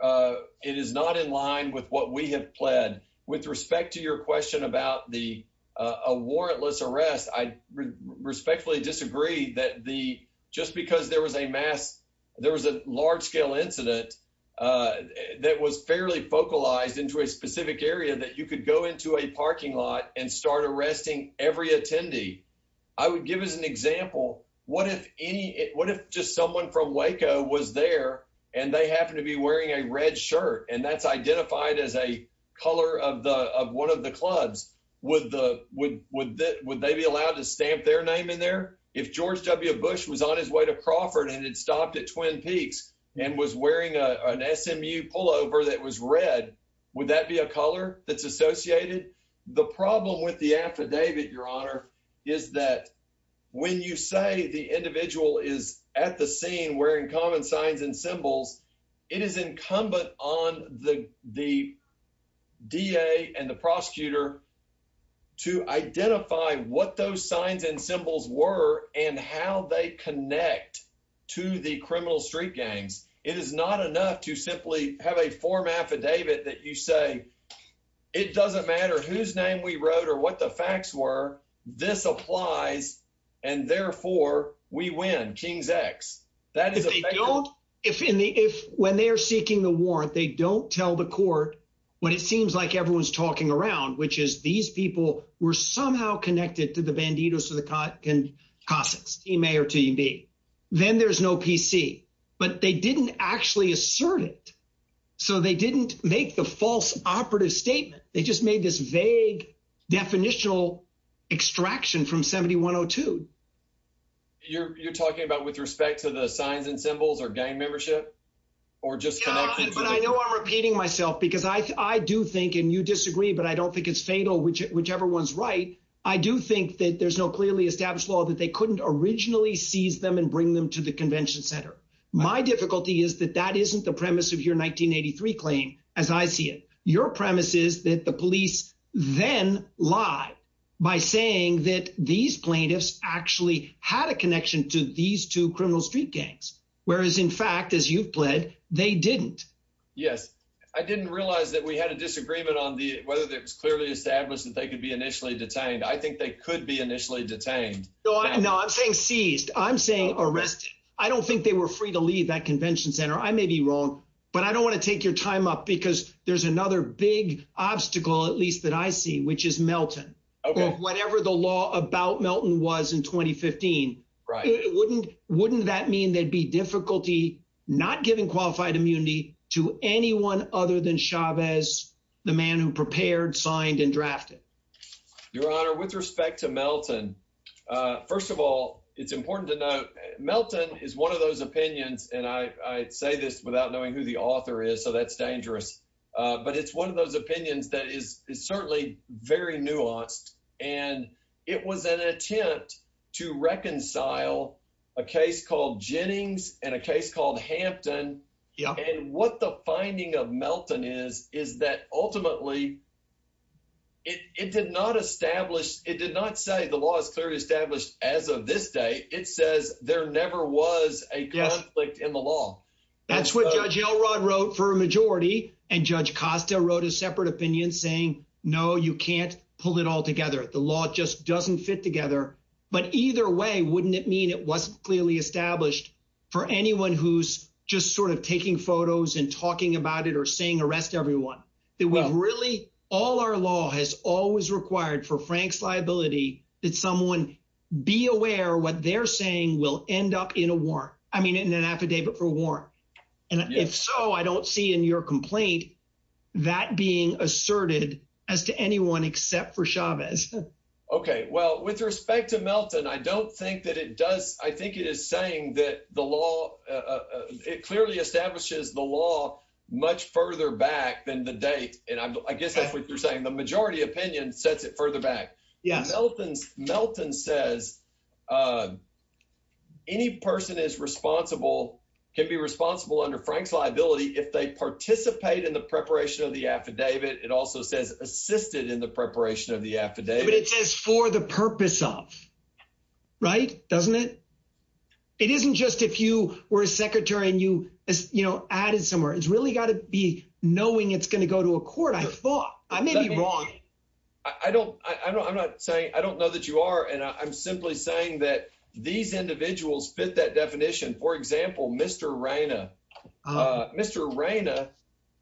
it is not in line with what we have pled. With respect to your question about the, a warrantless arrest, I respectfully disagree that the, just because there was a mass, there was a large scale incident that was fairly focalized into a specific area that you could go into a parking lot and start arresting every attendee. I would give as an example, what if any, what if just someone from Waco was there and they identified as a color of the, of one of the clubs, would the, would, would that, would they be allowed to stamp their name in there? If George W. Bush was on his way to Crawford and had stopped at Twin Peaks and was wearing a, an SMU pullover that was red, would that be a color that's associated? The problem with the affidavit, your honor, is that when you say the individual is at the scene wearing common signs and symbols, it is incumbent on the, the DA and the prosecutor to identify what those signs and symbols were and how they connect to the criminal street gangs. It is not enough to simply have a form affidavit that you say, it doesn't matter whose name we that is. If they don't, if in the, if when they're seeking the warrant, they don't tell the court what it seems like everyone's talking around, which is these people were somehow connected to the banditos to the Cossacks, team A or team B, then there's no PC, but they didn't actually assert it. So they didn't make the false operative statement. They just made this vague definitional extraction from 7102. You're, you're talking about with respect to the signs and symbols or gang membership, or just, but I know I'm repeating myself because I do think, and you disagree, but I don't think it's fatal, which whichever one's right. I do think that there's no clearly established law that they couldn't originally seize them and bring them to the convention center. My difficulty is that that isn't the premise of your 1983 claim. As I see it, your premise is that the police then lie by saying that these plaintiffs actually had a connection to these two criminal street gangs. Whereas in fact, as you've pled, they didn't. Yes. I didn't realize that we had a disagreement on the, whether there was clearly established that they could be initially detained. I think they could be initially detained. No, I'm saying seized. I'm saying arrested. I don't think they were free to leave that convention center. I may be wrong, but I don't want to take your time up because there's another big obstacle, at least that I see, which is Melton. Okay. Whatever the law about Melton was in 2015. Right. Wouldn't, wouldn't that mean there'd be difficulty not giving qualified immunity to anyone other than Chavez, the man who prepared, signed and drafted. Your honor, with respect to Melton, first of all, it's important to note Melton is one of those opinions. And I say this without knowing who the author is, so that's dangerous. But it's one of those opinions that is certainly very nuanced. And it was an attempt to reconcile a case called Jennings and a case called Hampton. And what the finding of Melton is, is that ultimately it did not establish, it did not say the law is clearly established as of this day. It says there never was a conflict in the law. That's what judge Elrod wrote for a majority. And judge Costa wrote a separate opinion saying, no, you can't pull it all together. The law just doesn't fit together, but either way, wouldn't it mean it wasn't clearly established for anyone who's just sort of taking photos and talking about it or saying arrest everyone that we've really, all our law has always required for Frank's liability that someone be aware what they're saying will end up in a warrant. I mean, in an affidavit for warrant. And if so, I don't see in your complaint that being asserted as to anyone except for Chavez. Okay. Well, with respect to Melton, I don't think that it does. I think it is saying that the law, it clearly establishes the law much further back than the date. And I guess that's what you're saying. The majority opinion sets it further back. Melton says any person is responsible, can be responsible under Frank's liability. If they participate in the preparation of the affidavit, it also says assisted in the preparation of the affidavit. But it says for the purpose of right. Doesn't it. It isn't just, if you were a secretary and you, as you know, added somewhere, it's really got to be knowing it's going to go to a court. I thought I may be wrong. I don't, I don't, I'm not saying I don't know that you are. And I'm simply saying that these individuals fit that definition. For example, Mr. Raina, Mr. Raina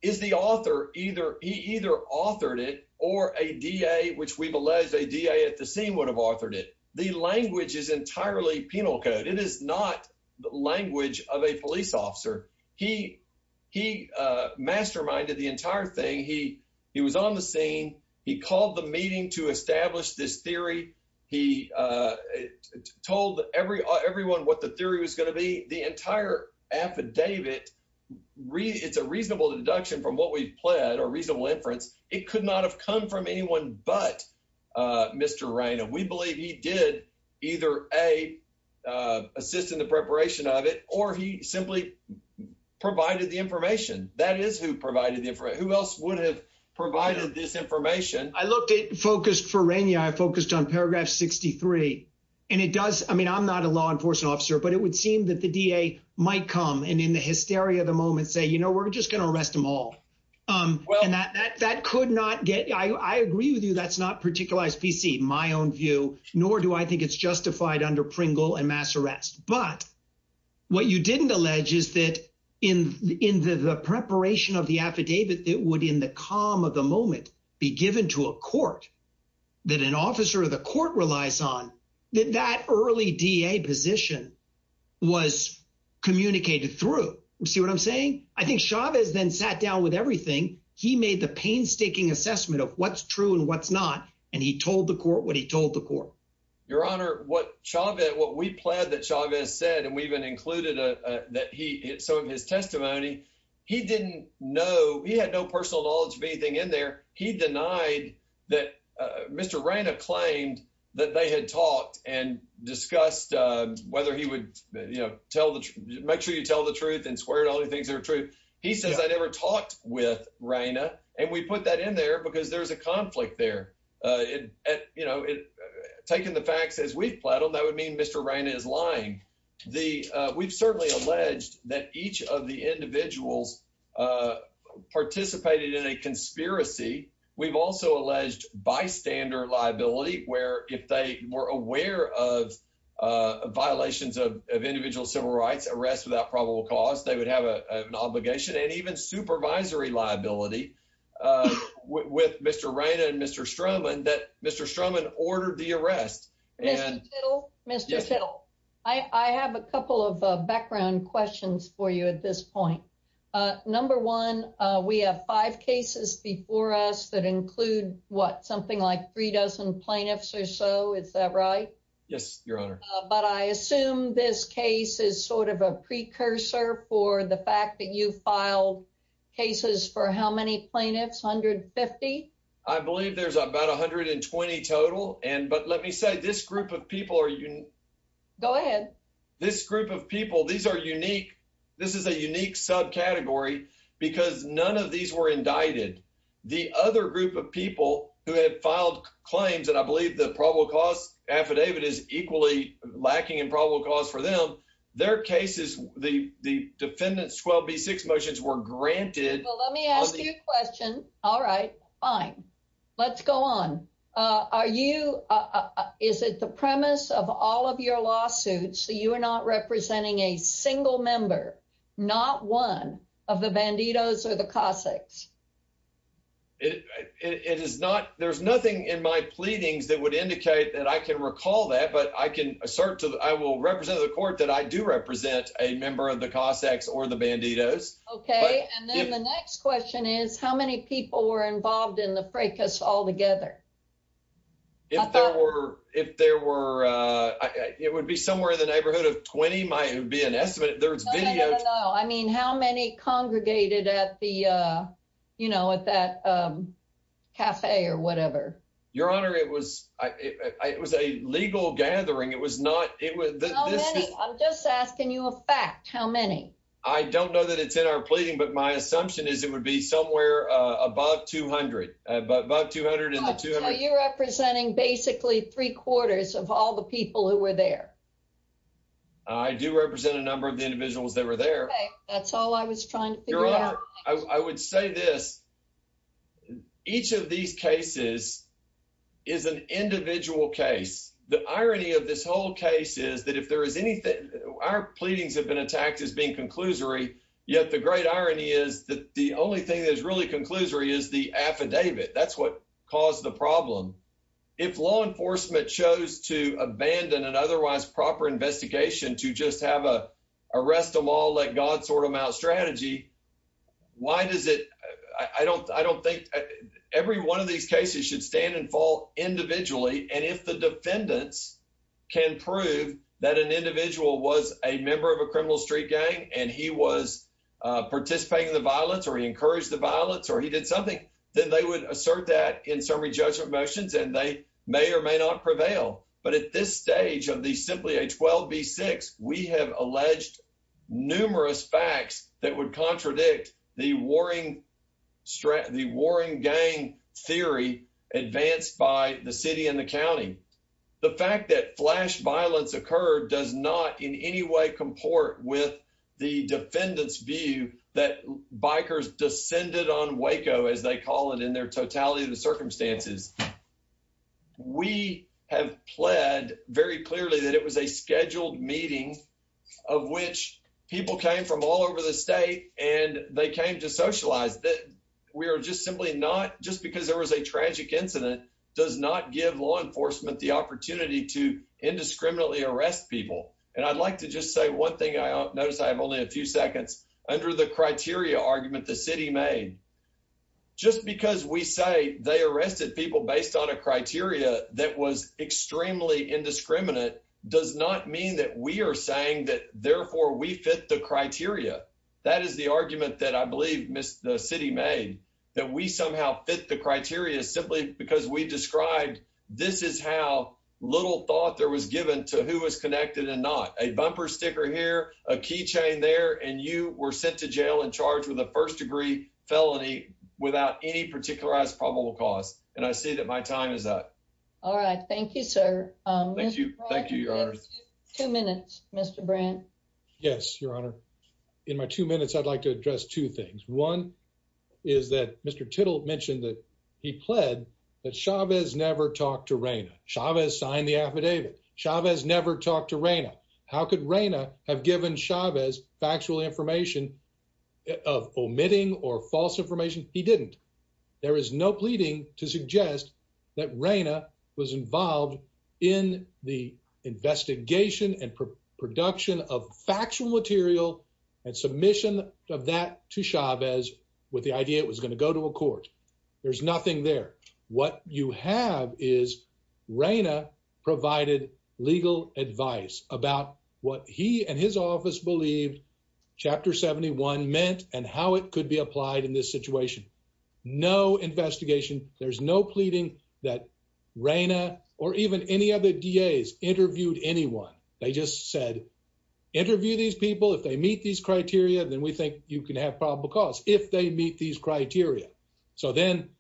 is the author, he either authored it or a DA, which we've alleged a DA at the scene would have authored it. The language is entirely penal code. It is not the language of a police officer. He, he masterminded the entire thing. He was on the scene. He called the meeting to establish this theory. He told everyone what the theory was going to be. The entire affidavit, it's a reasonable deduction from what we've pled or reasonable inference. It could not have come from anyone, but Mr. Raina, we believe he did either a assist in the preparation of it, or he simply provided the information that is who provided the information. Who else would have provided this information? I looked at focused for Raina. I focused on paragraph 63 and it does. I mean, I'm not a law enforcement officer, but it would seem that the DA might come and in the hysteria of the moment, say, you know, we're just going to arrest them all. And that, that, that could not get, I, I agree with you. That's not particularized PC, my own view, nor do I think it's justified under Pringle and mass arrest. But what you didn't allege is that in, in the preparation of the affidavit, it would in the calm of the moment be given to a court that an officer of the court relies on that early DA position was communicated through. See what I'm saying? I think Chavez then sat down with everything. He made the painstaking assessment of what's true and what's not. And he told the court what he told the court. Your honor, what Chavez, what we pled that Chavez said, and we even included a, that he, some of his testimony, he didn't know. He had no personal knowledge of anything in there. He denied that Mr. Raina claimed that they had talked and discussed whether he would, you know, tell the truth, make sure you tell the truth and squared all the things that are true. He says, I never talked with Raina. And we put that in there because there's a conflict there. Uh, it, uh, you know, it, uh, taking the facts as we've plattled, that would mean Mr. Raina is lying. The, uh, we've certainly alleged that each of the individuals, uh, participated in a conspiracy. We've also alleged bystander liability, where if they were aware of, uh, violations of, of individual civil rights arrest without probable cause, they would have an obligation and even supervisory liability, uh, with Mr. Raina and Mr. Stroman that Mr. Stroman ordered the arrest. And Mr. Kittle, I have a couple of background questions for you at this point. Uh, number one, uh, we have five cases before us that include what, something like three dozen plaintiffs or so. Is that right? Yes, your honor. But I assume this case is sort of a precursor for the fact that you filed cases for how many plaintiffs? 150. I believe there's about 120 total. And, but let me say this group of people are, go ahead. This group of people, these are unique. This is a unique sub category because none of these were indicted. The other group of people who had filed claims, and I believe the probable cause affidavit is equally lacking in probable cause for them. Their cases, the, the defendants, 12 B six motions were granted. Well, let me ask you a question. All right, fine. Let's go on. Uh, are you, uh, is it the premise of all of your lawsuits? So you are not representing a single member, not one of the Bandidos or the Cossacks. It is not, there's nothing in my pleadings that would indicate that I can recall that, but I can assert to the, I will represent the court that I do represent a member of the Cossacks or the Bandidos. Okay. And then the next question is how many people were involved in the fracas altogether? If there were, if there were, uh, it would be somewhere in the neighborhood of 20 might be an estimate. There's video. I mean, how many congregated at the, uh, you know, at that, um, cafe or whatever, your honor, it was, I, it was a legal gathering. It was not, it was, I'm just asking you a fact. How many? I don't know that it's in our pleading, but my assumption is it would be somewhere, uh, above 200, but about 200 in the two representing basically three quarters of all the people who were there. I do represent a number of the individuals that were there. That's all I was trying to figure out. I would say this. Each of these cases is an individual case. The irony of this whole case is that if there is anything, our pleadings have been attacked as being conclusory. Yet the great irony is that the only thing that is really conclusory is the affidavit. That's what caused the problem. If law enforcement chose to abandon an otherwise proper investigation to just have a arrest them all, let God sort them out strategy. Why does it, I don't, I don't think every one of these cases should stand and fall individually. And if the defendants can prove that an individual was a member of a criminal street gang, and he was participating in the violence, or he encouraged the violence, or he did something, then they would assert that in summary judgment motions, and they may or may not prevail. But at this stage of the simply a 12 B6, we have alleged numerous facts that would contradict the warring, the warring gang theory advanced by the city and the county. The fact that flash violence occurred does not in any way comport with the defendant's view that bikers descended on Waco as they call it in their totality of the circumstances. We have pled very clearly that it was a scheduled meeting of which people came from all over the state and they came to socialize that we are just simply not just because there was a tragic incident does not give law enforcement the opportunity to indiscriminately arrest people. And I'd like to just say one thing I noticed I have only a few seconds under the criteria arrested people based on a criteria that was extremely indiscriminate does not mean that we are saying that therefore we fit the criteria. That is the argument that I believe miss the city made that we somehow fit the criteria simply because we described. This is how little thought there was given to who was connected and not a bumper sticker here, a key chain there and you were sent to jail and charged with a first degree felony without any particularized probable cause. And I see that my time is up. All right. Thank you, sir. Thank you. Thank you. Two minutes, Mr. Brandt. Yes, your honor. In my two minutes, I'd like to address two things. One is that Mr. Tittle mentioned that he pled that Chavez never talked to Raina Chavez signed the of omitting or false information. He didn't. There is no pleading to suggest that Raina was involved in the investigation and production of factual material and submission of that to Chavez with the idea it was going to go to a court. There's nothing there. What you have is Raina provided legal advice about what he and his office believed Chapter 71 meant and how it could be applied in this situation. No investigation. There's no pleading that Raina or even any other days interviewed anyone. They just said, interview these people. If they meet these criteria, then we think you can have probable cause if they meet these criteria. So then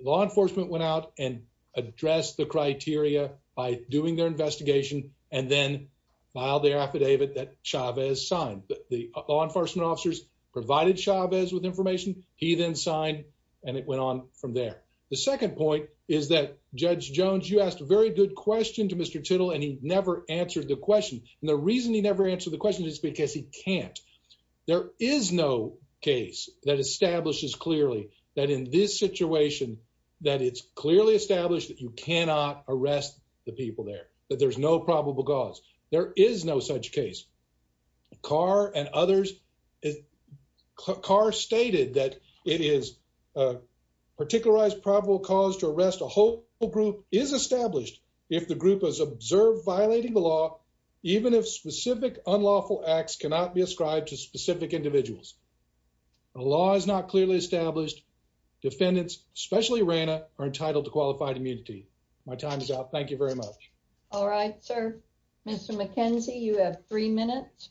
law enforcement went out and addressed the criteria by doing their investigation and then filed the affidavit that Chavez signed. The law enforcement officers provided Chavez with information. He then signed and it went on from there. The second point is that Judge Jones, you asked a very good question to Mr. Tittle, and he never answered the question. And the reason he answered the question is because he can't. There is no case that establishes clearly that in this situation, that it's clearly established that you cannot arrest the people there, that there's no probable cause. There is no such case. Carr and others, Carr stated that it is a particularized probable cause to arrest a whole group, is established if the group has observed violating the law, even if specific unlawful acts cannot be ascribed to specific individuals. The law is not clearly established. Defendants, especially Raina, are entitled to qualified immunity. My time is out. Thank you very much. All right, sir. Mr. McKenzie, you have three minutes.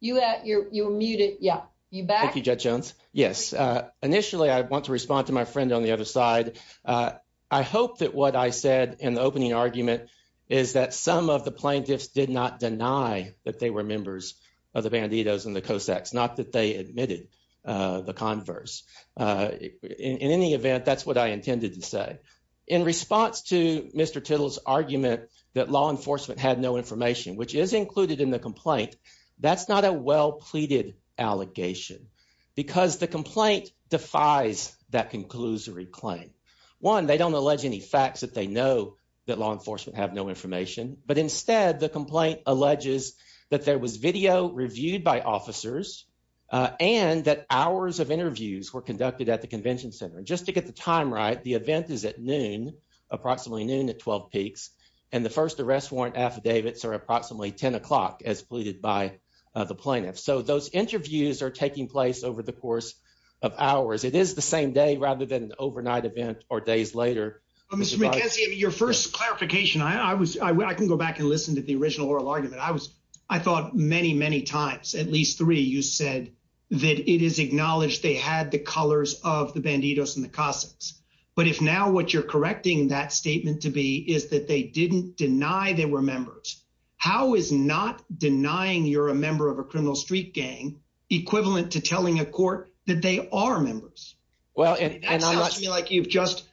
You're muted. Yeah, you're back. Thank you, Judge Jones. Yes. Initially, I want to respond to my friend on the other side. I hope that what I said in the opening argument is that some of the plaintiffs did not deny that they were members of the Bandidos and the Cossacks, not that they admitted the converse. In any event, that's what I intended to say. In response to Mr. Tittle's argument that law enforcement had no information, which is included in the complaint, that's not a well-pleaded allegation because the complaint defies that conclusory claim. One, they don't allege any facts that they know that law enforcement have no information, but instead, the complaint alleges that there was video reviewed by officers and that hours of interviews were conducted at the convention center. Just to get the time right, the event is at noon, approximately noon at 12 peaks, and the first arrest warrant affidavits are approximately 10 o'clock, as pleaded by the plaintiff. So, those interviews are taking place over the course of hours. It is the same day rather than an overnight event or days later. Mr. McKenzie, your first clarification, I can go back and listen to the original oral argument. I thought many, many times, at least three, you said that it is acknowledged they had the colors of the Bandidos and the Cossacks, but if now what you're correcting that statement to be is that they didn't deny they were members, how is not denying you're a member of a criminal street gang equivalent to telling a court that they are members? That sounds to me like you've just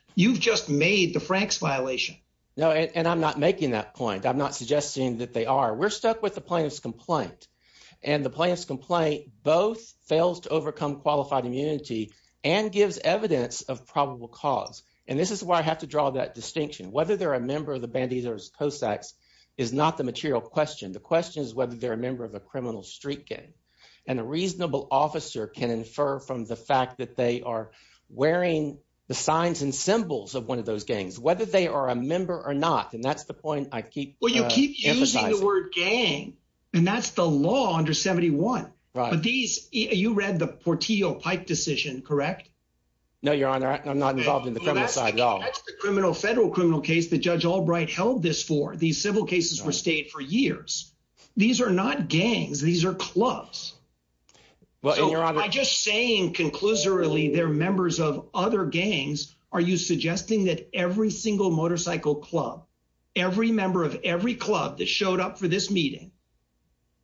made the Franks violation. No, and I'm not making that point. I'm not suggesting that they are. We're stuck with the plaintiff's complaint, and the plaintiff's complaint both fails to overcome qualified immunity and gives evidence of probable cause, and this is why I have to draw that distinction. Whether they're a member of the Bandidos-Cossacks is not the material question. The question is whether they're a member of a criminal street gang, and a reasonable officer can infer from the fact that they are wearing the signs and symbols of one of those gangs, whether they are a member or not, and that's the point I keep emphasizing. Well, you keep using the word gang, and that's the law under 71, but you read the Portillo-Pipe decision, correct? No, Your Honor. I'm not involved in the criminal side at all. That's the federal criminal case that Judge Albright held this for. These civil cases were stayed for years. These are not gangs. These are clubs. I'm just saying conclusively they're members of other gangs. Are you suggesting that every single motorcycle club, every member of every club that showed up for this meeting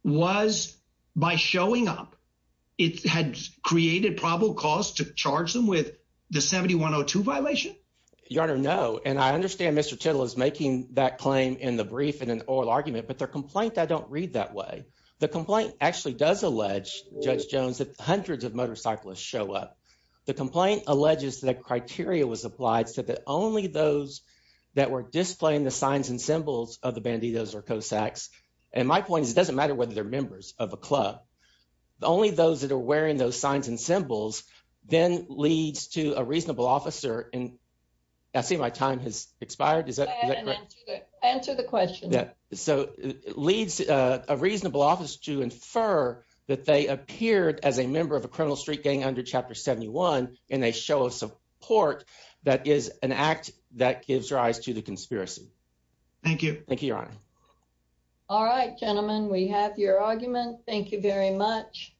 was, by showing up, it had created probable cause to charge them with the 7102 violation? Your Honor, no, and I understand Mr. Tittle is making that claim in the brief in an oral argument, but their complaint I don't read that way. The complaint actually does allege, Judge Jones, that hundreds of motorcyclists show up. The complaint alleges that criteria was applied so that only those that were displaying the signs and symbols of the Bandidos or Cossacks, and my point is it doesn't matter whether they're members of a club, only those that are wearing those signs and symbols then leads to a reasonable officer, and I see my time has expired. Is that correct? Answer the question. Yeah, so it leads a reasonable office to infer that they appeared as a member of a criminal street gang under Chapter 71 and they show us a port that is an act that gives rise to the conspiracy. Thank you. Thank you, all right, gentlemen, we have your argument. Thank you very much.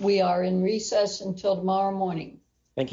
We are in recess until tomorrow morning. Thank you.